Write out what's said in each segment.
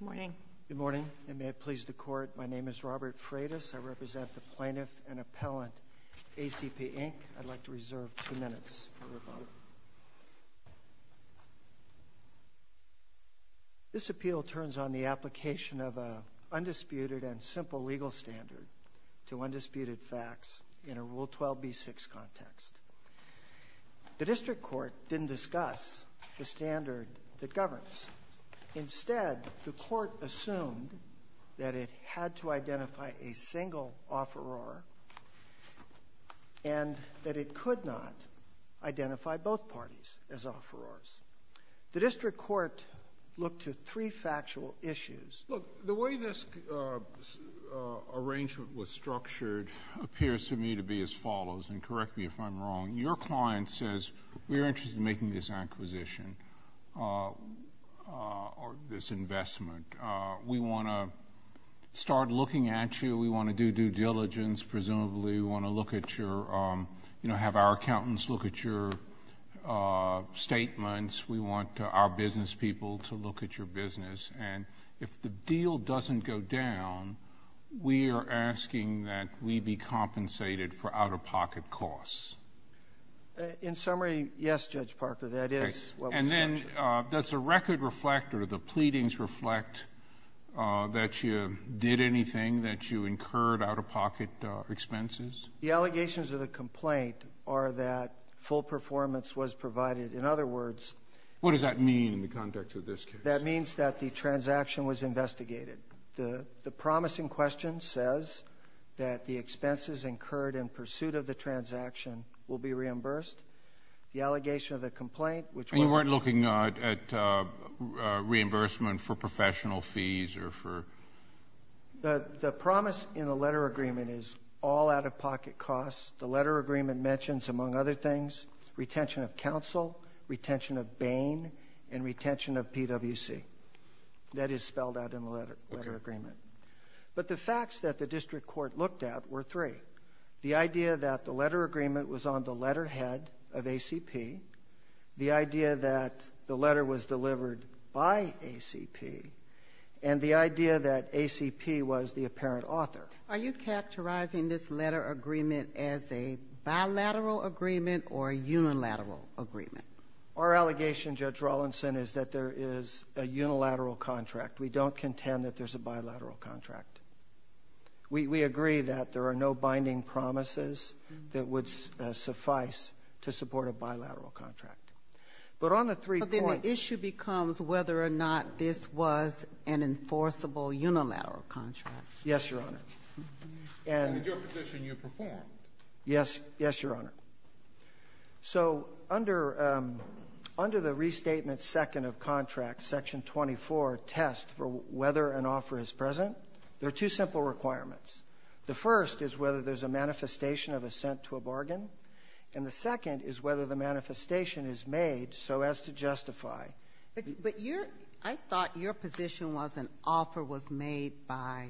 Good morning. Good morning, and may it please the Court, my name is Robert Freitas. I represent the Plaintiff and Appellant, ACP, Inc. I'd like to reserve two minutes for rebuttal. This appeal turns on the application of an undisputed and simple legal standard to undisputed facts in a Rule 12b6 context. The District Court didn't discuss the standard that governs. Instead, the Court assumed that it had to identify a single offeror and that it could not identify both parties as offerors. The District Court looked to three factual issues. Look, the way this arrangement was structured appears to me to be as follows, and correct me if I'm wrong, your client says, we're interested in making this acquisition or this investment. We want to start looking at you. We want to do due diligence, presumably. We want to have our accountants look at your statements. We want our business people to look at your business. And if the deal doesn't go down, we are asking that we be compensated for out-of-pocket costs. In summary, yes, Judge Parker, that is what was structured. And then does the record reflect or the pleadings reflect that you did anything, that you incurred out-of-pocket expenses? The allegations of the complaint are that full performance was provided. In other words, What does that mean in the context of this case? That means that the transaction was investigated. The promising question says that the expenses incurred in pursuit of the transaction will be reimbursed. The allegation of the complaint, which was And you weren't looking at reimbursement for professional fees or for The promise in the letter agreement is all out-of-pocket costs. The letter agreement mentions, among other things, retention of counsel, retention of Bain, and retention of PWC. That is spelled out in the letter agreement. But the facts that the district court looked at were three. The idea that the letter agreement was on the letterhead of ACP, the idea that the letter was delivered by ACP, and the idea that ACP was the apparent author. Are you characterizing this letter agreement as a bilateral agreement or a unilateral agreement? Our allegation, Judge Rawlinson, is that there is a unilateral contract. We don't contend that there's a bilateral contract. We agree that there are no binding promises that would suffice to support a bilateral contract. But on the three points But then the issue becomes whether or not this was an enforceable unilateral contract. Yes, Your Honor. And In your position, you prefer. Yes, Your Honor. So under the restatement second of contract, section 24, test for whether an offer is present, there are two simple requirements. The first is whether there's a manifestation of assent to a bargain, and the second is whether the manifestation is made so as to justify. But I thought your position was an offer was made by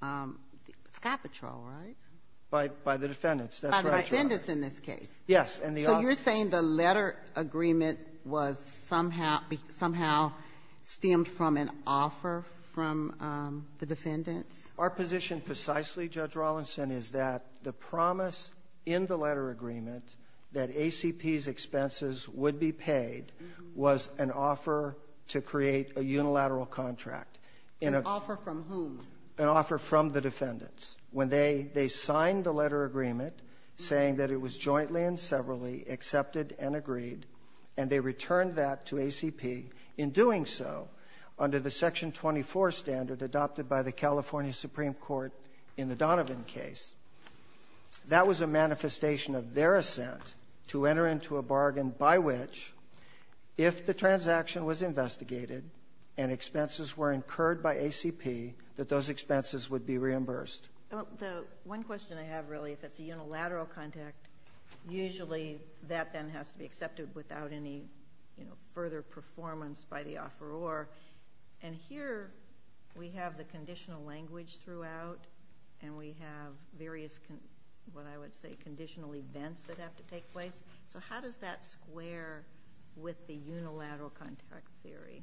Sky Patrol, right? By the defendants. By the defendants in this case. Yes, and the So you're saying the letter agreement was somehow stemmed from an offer from the defendants? Our position precisely, Judge Rawlinson, is that the promise in the letter agreement that ACP's expenses would be paid was an offer to create a unilateral contract. An offer from whom? An offer from the defendants. When they signed the letter agreement saying that it was jointly and severally accepted and agreed and they returned that to ACP in doing so, under the section 24 standard adopted by the California Supreme Court in the Donovan case, that was a manifestation of their assent to enter into a bargain by which, if the transaction was investigated and expenses were incurred by ACP, that those expenses would be reimbursed. The one question I have, really, if it's a unilateral contract, usually that then has to be accepted without any further performance by the offeror. And here we have the conditional language throughout and we have various, what I would say, conditional events that have to take place. So how does that square with the unilateral contract theory?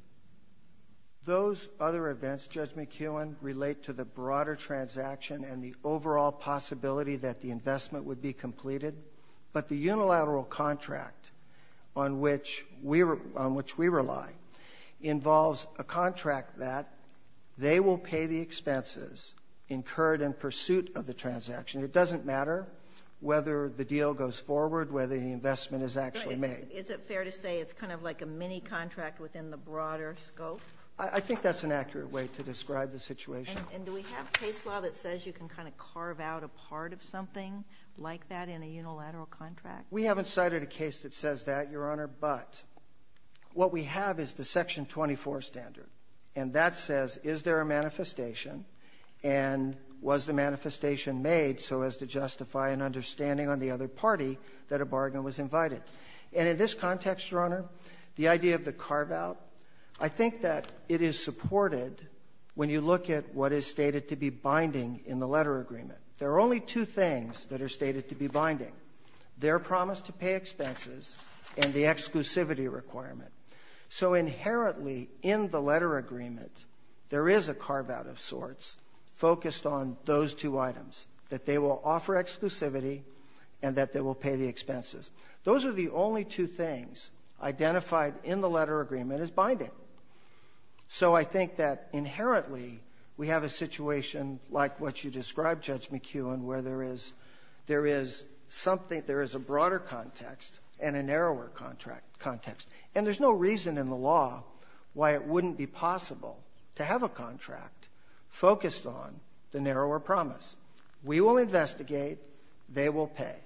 Those other events, Judge McKeown, relate to the broader transaction and the overall possibility that the investment would be completed. But the unilateral contract on which we rely involves a contract that they will pay the expenses incurred in pursuit of the transaction. It doesn't matter whether the deal goes forward, whether the investment is actually made. Is it fair to say it's kind of like a mini-contract within the broader scope? I think that's an accurate way to describe the situation. And do we have case law that says you can kind of carve out a part of something like that in a unilateral contract? We haven't cited a case that says that, Your Honor, but what we have is the section 24 standard. And that says, is there a manifestation? And was the manifestation made so as to justify an understanding on the other party that a bargain was invited? And in this context, Your Honor, the idea of the carve-out, I think that it is supported when you look at what is stated to be binding in the letter agreement. There are only two things that are stated to be binding, their promise to pay expenses and the exclusivity requirement. So inherently, in the letter agreement, there is a carve-out of sorts focused on those two items, that they will offer exclusivity and that they will pay the expenses. Those are the only two things identified in the letter agreement as binding. So I think that inherently, we have a situation like what you described, Judge McEwen, where there is a broader context and a narrower context. And there's no reason in the law why it wouldn't be possible to have a contract focused on the narrower promise. We will investigate. They will pay.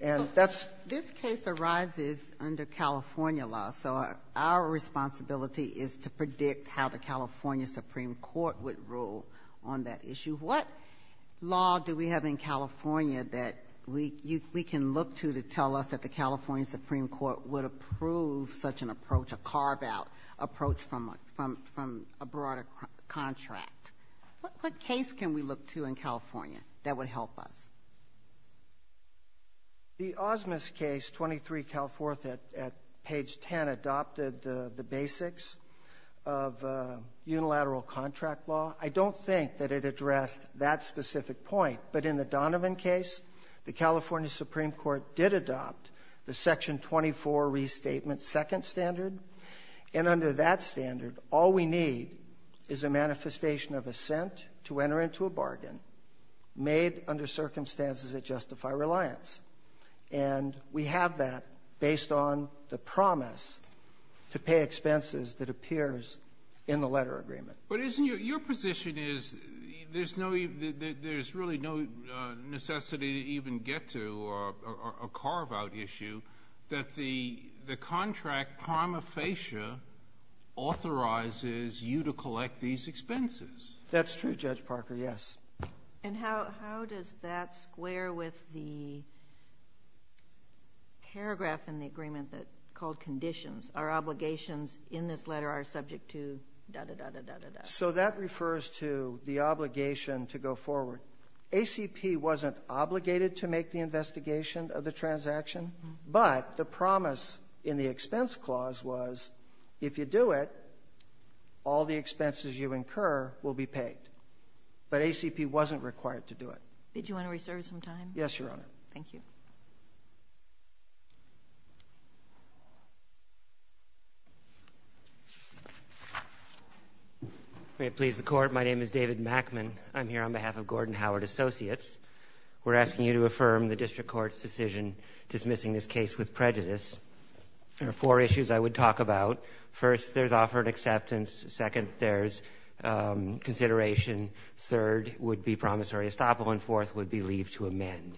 This case arises under California law. So our responsibility is to predict how the California Supreme Court would rule on that issue. What law do we have in California that we can look to to tell us that the California Supreme Court would approve such an approach, a carve-out approach from a broader contract? What case can we look to in California that would help us? The Osmis case, 23 Cal 4th at page 10, adopted the basics of unilateral contract law. I don't think that it addressed that specific point. But in the Donovan case, the California Supreme Court did adopt the section 24 restatement second standard. And under that standard, all we need is a manifestation of assent to enter into a bargain made under circumstances that justify reliance. And we have that based on the promise to pay expenses that appears in the letter agreement. But isn't your position is there's really no necessity to even get to a carve-out issue, that the contract prima facie authorizes you to collect these expenses? That's true, Judge Parker, yes. And how does that square with the paragraph in the agreement called conditions? Our obligations in this letter are subject to da-da-da-da-da-da-da. So that refers to the obligation to go forward. So ACP wasn't obligated to make the investigation of the transaction, but the promise in the expense clause was if you do it, all the expenses you incur will be paid. But ACP wasn't required to do it. Did you want to reserve some time? Yes, Your Honor. Thank you. May it please the Court. My name is David Mackman. I'm here on behalf of Gordon Howard Associates. We're asking you to affirm the district court's decision dismissing this case with prejudice. There are four issues I would talk about. First, there's offer and acceptance. Second, there's consideration. Third would be promissory estoppel. And fourth would be leave to amend.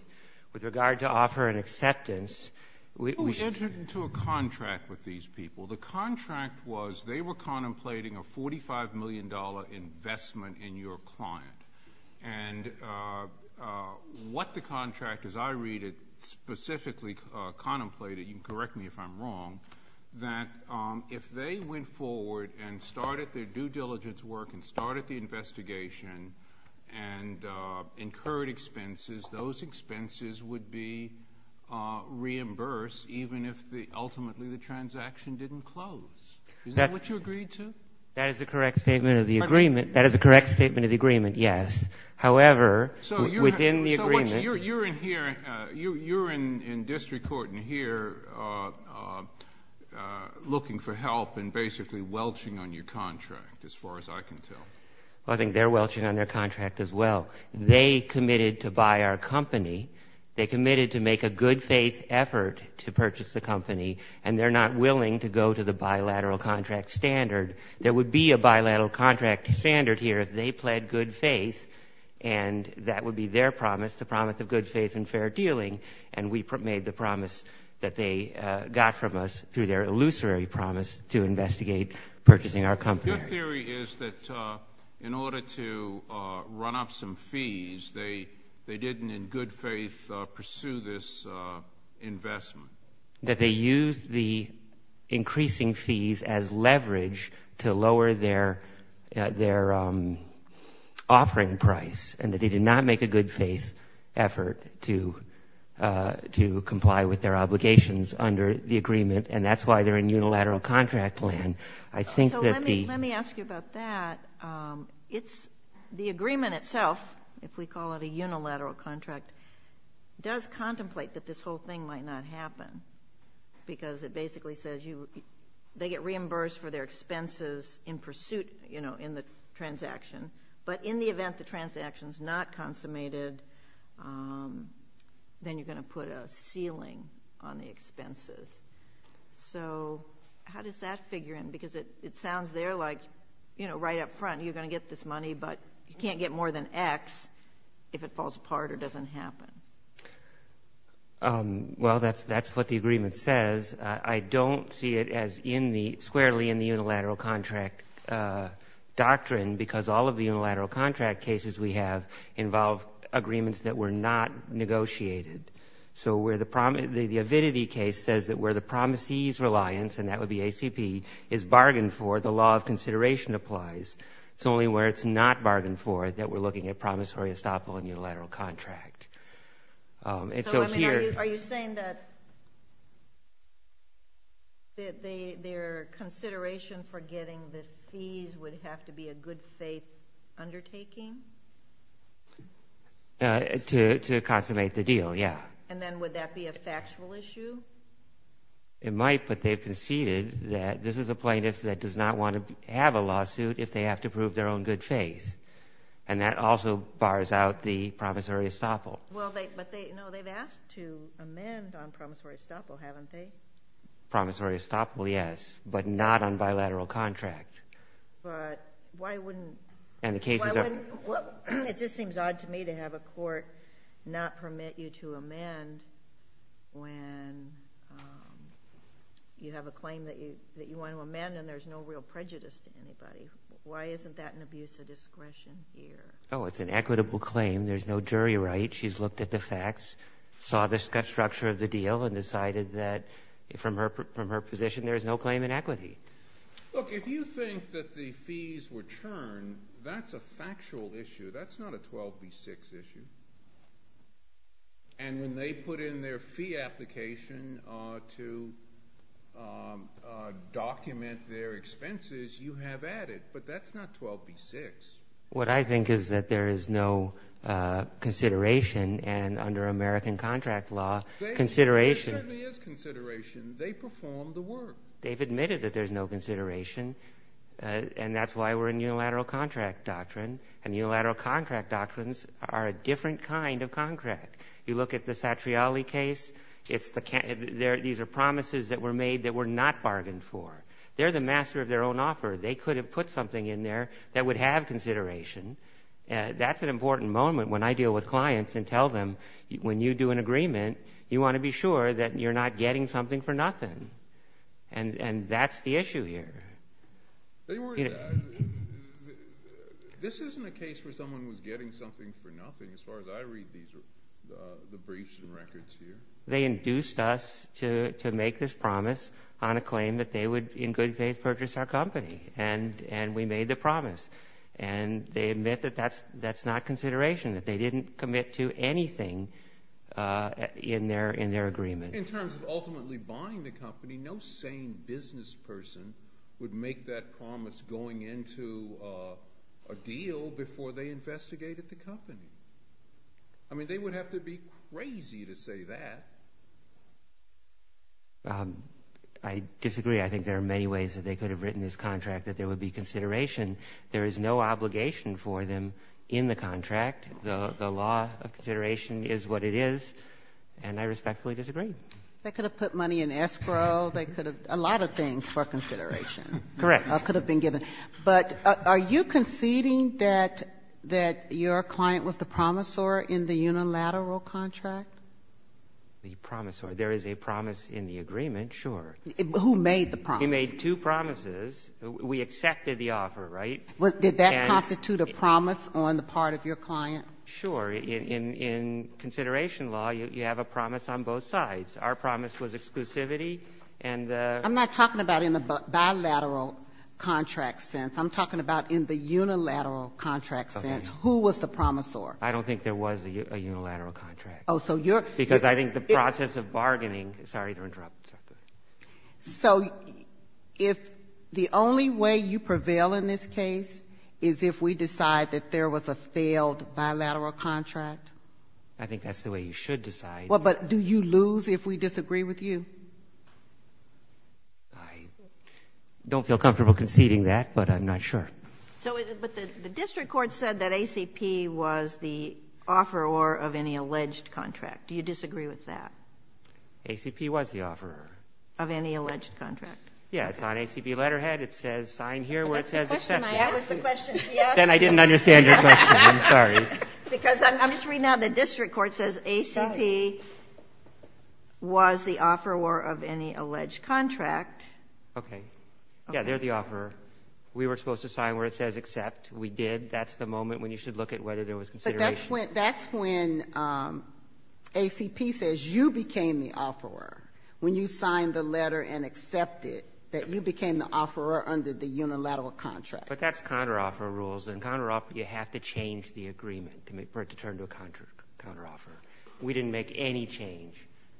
With regard to offer and acceptance, we— We entered into a contract with these people. The contract was they were contemplating a $45 million investment in your client. And what the contract, as I read it, specifically contemplated—you can correct me if I'm wrong— that if they went forward and started their due diligence work and started the investigation and incurred expenses, those expenses would be reimbursed even if ultimately the transaction didn't close. Is that what you agreed to? That is the correct statement of the agreement. That is the correct statement of the agreement, yes. However, within the agreement— So you're in here in district court and here looking for help and basically welching on your contract as far as I can tell. I think they're welching on their contract as well. They committed to buy our company. They committed to make a good-faith effort to purchase the company, and they're not willing to go to the bilateral contract standard. There would be a bilateral contract standard here if they pled good faith, and that would be their promise, the promise of good faith and fair dealing. And we made the promise that they got from us through their illusory promise to investigate purchasing our company. Your theory is that in order to run up some fees, they didn't in good faith pursue this investment. That they used the increasing fees as leverage to lower their offering price and that they did not make a good-faith effort to comply with their obligations under the agreement, and that's why they're in unilateral contract land. Let me ask you about that. The agreement itself, if we call it a unilateral contract, does contemplate that this whole thing might not happen because it basically says they get reimbursed for their expenses in pursuit in the transaction, but in the event the transaction is not consummated, then you're going to put a ceiling on the expenses. So how does that figure in? Because it sounds there like, you know, right up front you're going to get this money, but you can't get more than X if it falls apart or doesn't happen. Well, that's what the agreement says. I don't see it as squarely in the unilateral contract doctrine because all of the unilateral contract cases we have involve agreements that were not negotiated. So the Avidity case says that where the promisee's reliance, and that would be ACP, is bargained for, the law of consideration applies. It's only where it's not bargained for that we're looking at promissory estoppel in unilateral contract. So, I mean, are you saying that their consideration for getting the fees would have to be a good-faith undertaking? To consummate the deal, yeah. And then would that be a factual issue? It might, but they've conceded that this is a plaintiff that does not want to have a lawsuit if they have to prove their own good faith, and that also bars out the promissory estoppel. Well, but they've asked to amend on promissory estoppel, haven't they? Promissory estoppel, yes, but not on bilateral contract. But why wouldn't it? It just seems odd to me to have a court not permit you to amend when you have a claim that you want to amend and there's no real prejudice to anybody. Why isn't that an abuse of discretion here? Oh, it's an equitable claim. There's no jury right. She's looked at the facts, saw the structure of the deal, and decided that from her position there is no claim in equity. Look, if you think that the fees were churned, that's a factual issue. That's not a 12B6 issue. And when they put in their fee application to document their expenses, you have added. But that's not 12B6. What I think is that there is no consideration, and under American contract law, consideration. There certainly is consideration. They performed the work. They've admitted that there's no consideration, and that's why we're in unilateral contract doctrine, and unilateral contract doctrines are a different kind of contract. You look at the Satriali case. These are promises that were made that were not bargained for. They're the master of their own offer. They could have put something in there that would have consideration. That's an important moment when I deal with clients and tell them, when you do an agreement, you want to be sure that you're not getting something for nothing, and that's the issue here. This isn't a case where someone was getting something for nothing, as far as I read the briefs and records here. They induced us to make this promise on a claim that they would, in good faith, purchase our company, and we made the promise. And they admit that that's not consideration, that they didn't commit to anything in their agreement. In terms of ultimately buying the company, no sane business person would make that promise going into a deal before they investigated the company. I mean, they would have to be crazy to say that. I disagree. I think there are many ways that they could have written this contract that there would be consideration. There is no obligation for them in the contract. The law of consideration is what it is, and I respectfully disagree. They could have put money in escrow. They could have a lot of things for consideration. Correct. Could have been given. But are you conceding that your client was the promisor in the unilateral contract? The promisor. There is a promise in the agreement, sure. Who made the promise? He made two promises. We accepted the offer, right? Did that constitute a promise on the part of your client? Sure. In consideration law, you have a promise on both sides. Our promise was exclusivity. I'm not talking about in the bilateral contract sense. I'm talking about in the unilateral contract sense. Who was the promisor? I don't think there was a unilateral contract. Because I think the process of bargaining. Sorry to interrupt. So if the only way you prevail in this case is if we decide that there was a failed bilateral contract? I think that's the way you should decide. Well, but do you lose if we disagree with you? I don't feel comfortable conceding that, but I'm not sure. But the district court said that ACP was the offeror of any alleged contract. Do you disagree with that? ACP was the offeror. Of any alleged contract. Yeah, it's on ACP letterhead. It says sign here where it says accept. That was the question she asked. Then I didn't understand your question. I'm sorry. Because I'm just reading now the district court says ACP was the offeror of any alleged contract. Okay. Yeah, they're the offeror. We were supposed to sign where it says accept. We did. That's the moment when you should look at whether there was consideration. That's when ACP says you became the offeror. When you signed the letter and accepted that you became the offeror under the unilateral contract. But that's counteroffer rules, and counteroffer, you have to change the agreement for it to turn to a counteroffer. We didn't make any change.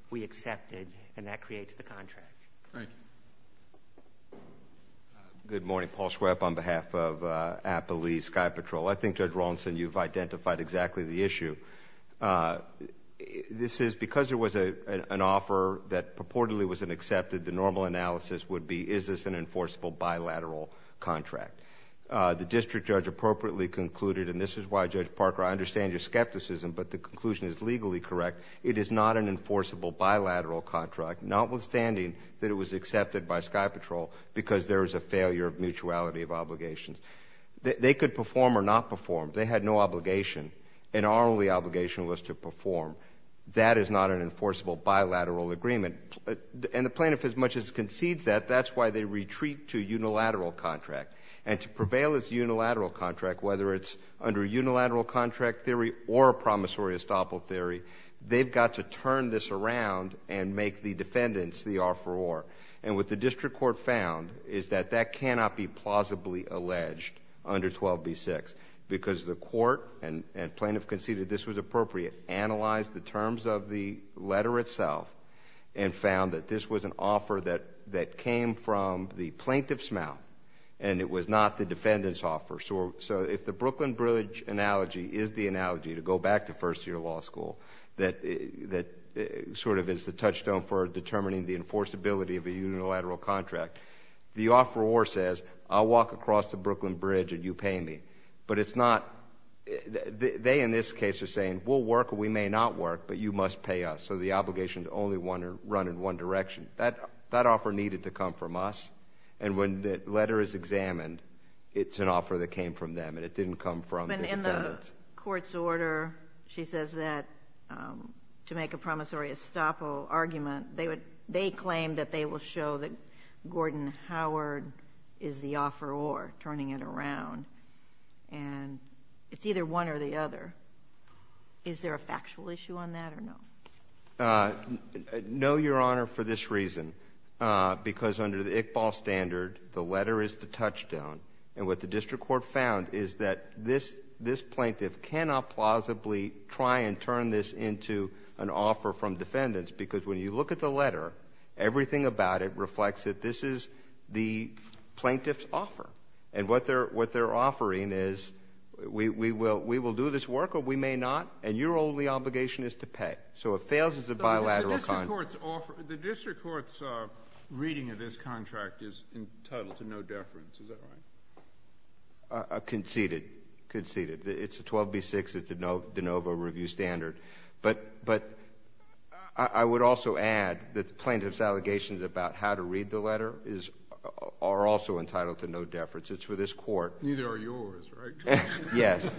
We accepted, and that creates the contract. Thank you. Good morning. Paul Schwepp on behalf of Appaloose Sky Patrol. I think, Judge Rawlinson, you've identified exactly the issue. This is because it was an offer that purportedly was an accepted, the normal analysis would be, is this an enforceable bilateral contract? The district judge appropriately concluded, and this is why, Judge Parker, I understand your skepticism, but the conclusion is legally correct. It is not an enforceable bilateral contract, notwithstanding that it was accepted by Sky Patrol because there is a failure of mutuality of obligations. They could perform or not perform. They had no obligation, and our only obligation was to perform. That is not an enforceable bilateral agreement. And the plaintiff, as much as concedes that, that's why they retreat to unilateral contract. And to prevail as unilateral contract, whether it's under unilateral contract theory or promissory estoppel theory, they've got to turn this around and make the defendants the offeror. And what the district court found is that that cannot be plausibly alleged under 12b-6 because the court and plaintiff conceded this was appropriate, analyzed the terms of the letter itself and found that this was an offer that came from the plaintiff's mouth and it was not the defendant's offer. So if the Brooklyn Bridge analogy is the analogy to go back to first-year law school that sort of is the touchstone for determining the enforceability of a unilateral contract, the offeror says, I'll walk across the Brooklyn Bridge and you pay me. But it's not, they in this case are saying, we'll work or we may not work, but you must pay us. So the obligations only run in one direction. That offer needed to come from us, and when the letter is examined, it's an offer that came from them and it didn't come from the defendants. The court's order, she says that to make a promissory estoppel argument, they claim that they will show that Gordon Howard is the offeror, turning it around, and it's either one or the other. Is there a factual issue on that or no? No, Your Honor, for this reason. Because under the ICBAL standard, the letter is the touchstone, and what the district court found is that this plaintiff cannot plausibly try and turn this into an offer from defendants because when you look at the letter, everything about it reflects that this is the plaintiff's offer, and what they're offering is we will do this work or we may not, and your only obligation is to pay. So it fails as a bilateral contract. The district court's reading of this contract is entitled to no deference. Is that right? Conceded. Conceded. It's a 12B6. It's a de novo review standard. But I would also add that the plaintiff's allegations about how to read the letter are also entitled to no deference. It's for this court. Neither are yours, right? Yes.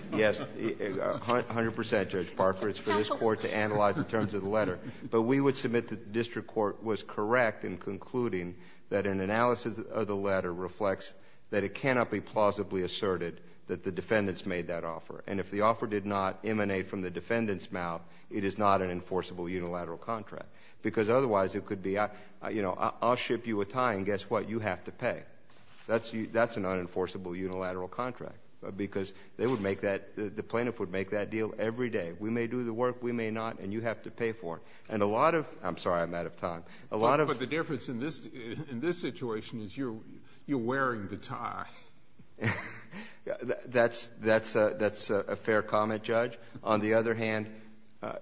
A hundred percent, Judge Barford. It's for this court to analyze in terms of the letter. But we would submit that the district court was correct in concluding that an analysis of the letter reflects that it cannot be plausibly asserted that the defendants made that offer, and if the offer did not emanate from the defendant's mouth, it is not an enforceable unilateral contract because otherwise it could be, you know, I'll ship you a tie and guess what, you have to pay. That's an unenforceable unilateral contract because they would make that, the plaintiff would make that deal every day. We may do the work, we may not, and you have to pay for it. And a lot of, I'm sorry, I'm out of time. But the difference in this situation is you're wearing the tie. That's a fair comment, Judge. On the other hand,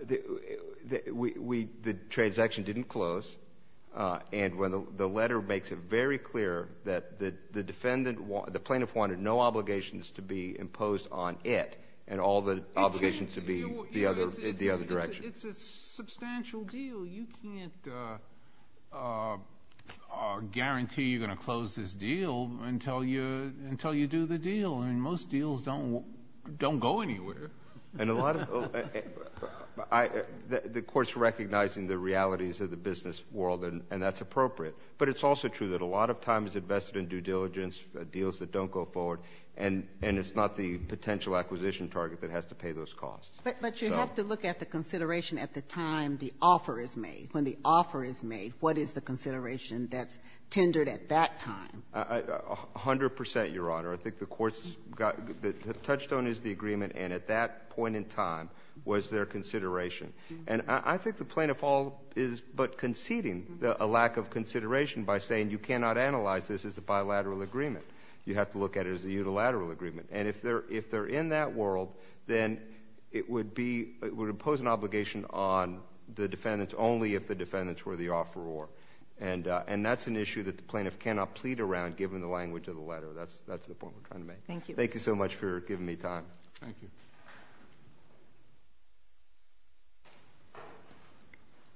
the transaction didn't close, and the letter makes it very clear that the plaintiff wanted no obligations to be imposed on it and all the obligations to be the other direction. It's a substantial deal. You can't guarantee you're going to close this deal until you do the deal. I mean, most deals don't go anywhere. The court's recognizing the realities of the business world, and that's appropriate. But it's also true that a lot of time is invested in due diligence, in these deals that don't go forward, and it's not the potential acquisition target that has to pay those costs. But you have to look at the consideration at the time the offer is made. When the offer is made, what is the consideration that's tendered at that time? A hundred percent, Your Honor. I think the court's got, the touchstone is the agreement, and at that point in time was there consideration. And I think the plaintiff is but conceding a lack of consideration by saying you cannot analyze this as a bilateral agreement. You have to look at it as a unilateral agreement. And if they're in that world, then it would impose an obligation on the defendants only if the defendants were the offeror. And that's an issue that the plaintiff cannot plead around, given the language of the letter. That's the point we're trying to make. Thank you. Thank you so much for giving me time. Thank you.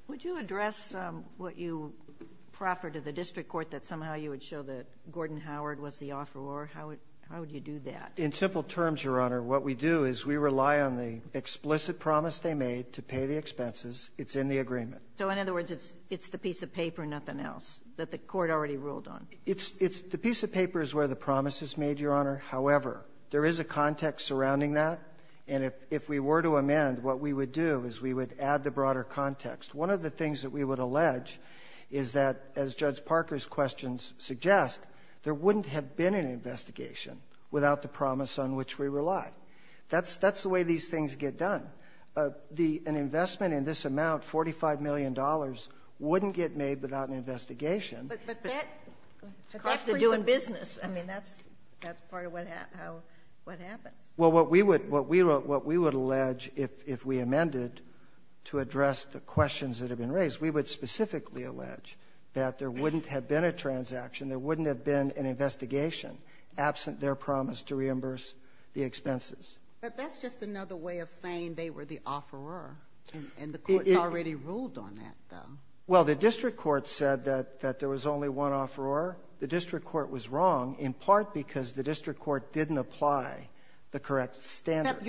Would you address what you proffer to the district court that somehow you would show that Gordon Howard was the offeror? How would you do that? In simple terms, Your Honor, what we do is we rely on the explicit promise they made to pay the expenses. It's in the agreement. So in other words, it's the piece of paper, nothing else, that the court already ruled on? It's the piece of paper is where the promise is made, Your Honor. However, there is a context surrounding that. And if we were to amend, what we would do is we would add the broader context. One of the things that we would allege is that, as Judge Parker's questions suggest, there wouldn't have been an investigation without the promise on which we rely. That's the way these things get done. An investment in this amount, $45 million, wouldn't get made without an investigation. But that has to do with business. I mean, that's part of what happens. Well, what we would allege if we amended to address the questions that have been raised, we would specifically allege that there wouldn't have been a transaction, there wouldn't have been an investigation, absent their promise to reimburse the expenses. But that's just another way of saying they were the offeror, and the court already ruled on that, though. Well, the district court said that there was only one offeror. The district court was wrong, in part because the district court didn't apply the correct standard.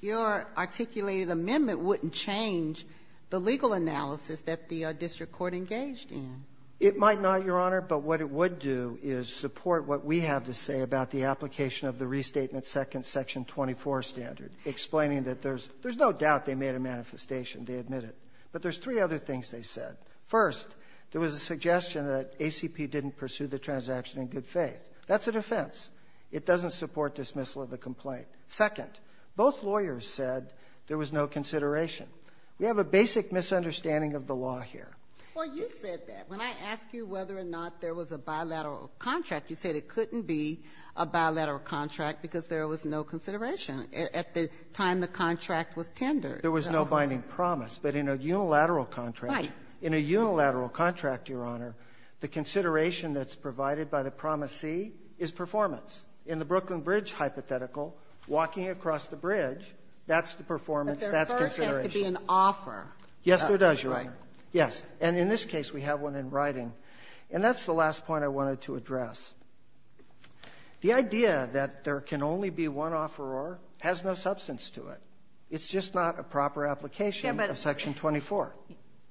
Your articulated amendment wouldn't change the legal analysis that the district court engaged in. It might not, Your Honor, but what it would do is support what we have to say about the application of the Restatement Second, Section 24 standard, explaining that there's no doubt they made a manifestation, they admit it. But there's three other things they said. First, there was a suggestion that ACP didn't pursue the transaction in good faith. That's a defense. It doesn't support dismissal of the complaint. Second, both lawyers said there was no consideration. We have a basic misunderstanding of the law here. Well, you said that. When I asked you whether or not there was a bilateral contract, you said it couldn't be a bilateral contract because there was no consideration at the time the contract was tendered. There was no binding promise. But in a unilateral contract, in a unilateral contract, Your Honor, the consideration that's provided by the promisee is performance. In the Brooklyn Bridge hypothetical, walking across the bridge, that's the performance, that's consideration. But there first has to be an offer. Yes, there does, Your Honor. That's right. Yes. And in this case, we have one in writing. And that's the last point I wanted to address. The idea that there can only be one offeror has no substance to it. It's just not a proper application of Section 24.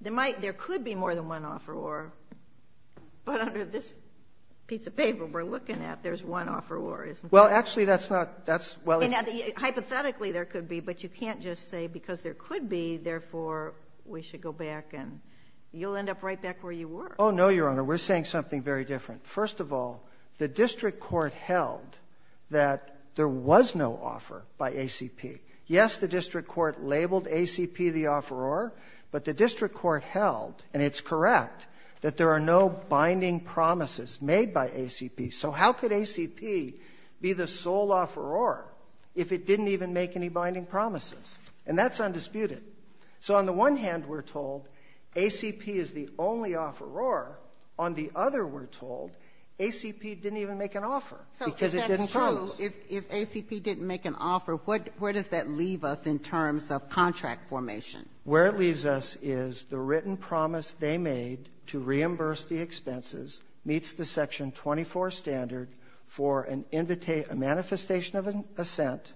There might, there could be more than one offeror. But under this piece of paper we're looking at, there's one offeror, isn't there? Well, actually, that's not, that's, well. Hypothetically, there could be. But you can't just say because there could be, therefore, we should go back and you'll end up right back where you were. Oh, no, Your Honor. We're saying something very different. First of all, the district court held that there was no offer by ACP. Yes, the district court labeled ACP the offeror, but the district court held, and it's correct, that there are no binding promises made by ACP. So how could ACP be the sole offeror if it didn't even make any binding promises? And that's undisputed. So on the one hand, we're told ACP is the only offeror. On the other, we're told ACP didn't even make an offer because it didn't choose. So if ACP didn't make an offer, where does that leave us in terms of contract formation? Where it leaves us is the written promise they made to reimburse the expenses meets the Section 24 standard for a manifestation of assent,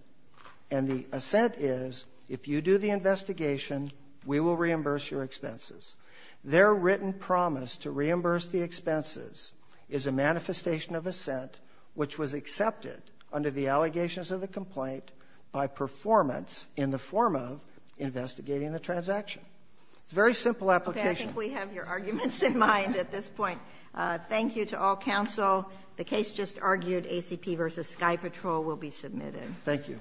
and the assent is if you do the investigation, we will reimburse your expenses. Their written promise to reimburse the expenses is a manifestation of assent, which was accepted under the allegations of the complaint by performance in the form of investigating the transaction. It's a very simple application. Okay, I think we have your arguments in mind at this point. Thank you to all counsel. The case just argued, ACP v. Sky Patrol, will be submitted. Thank you.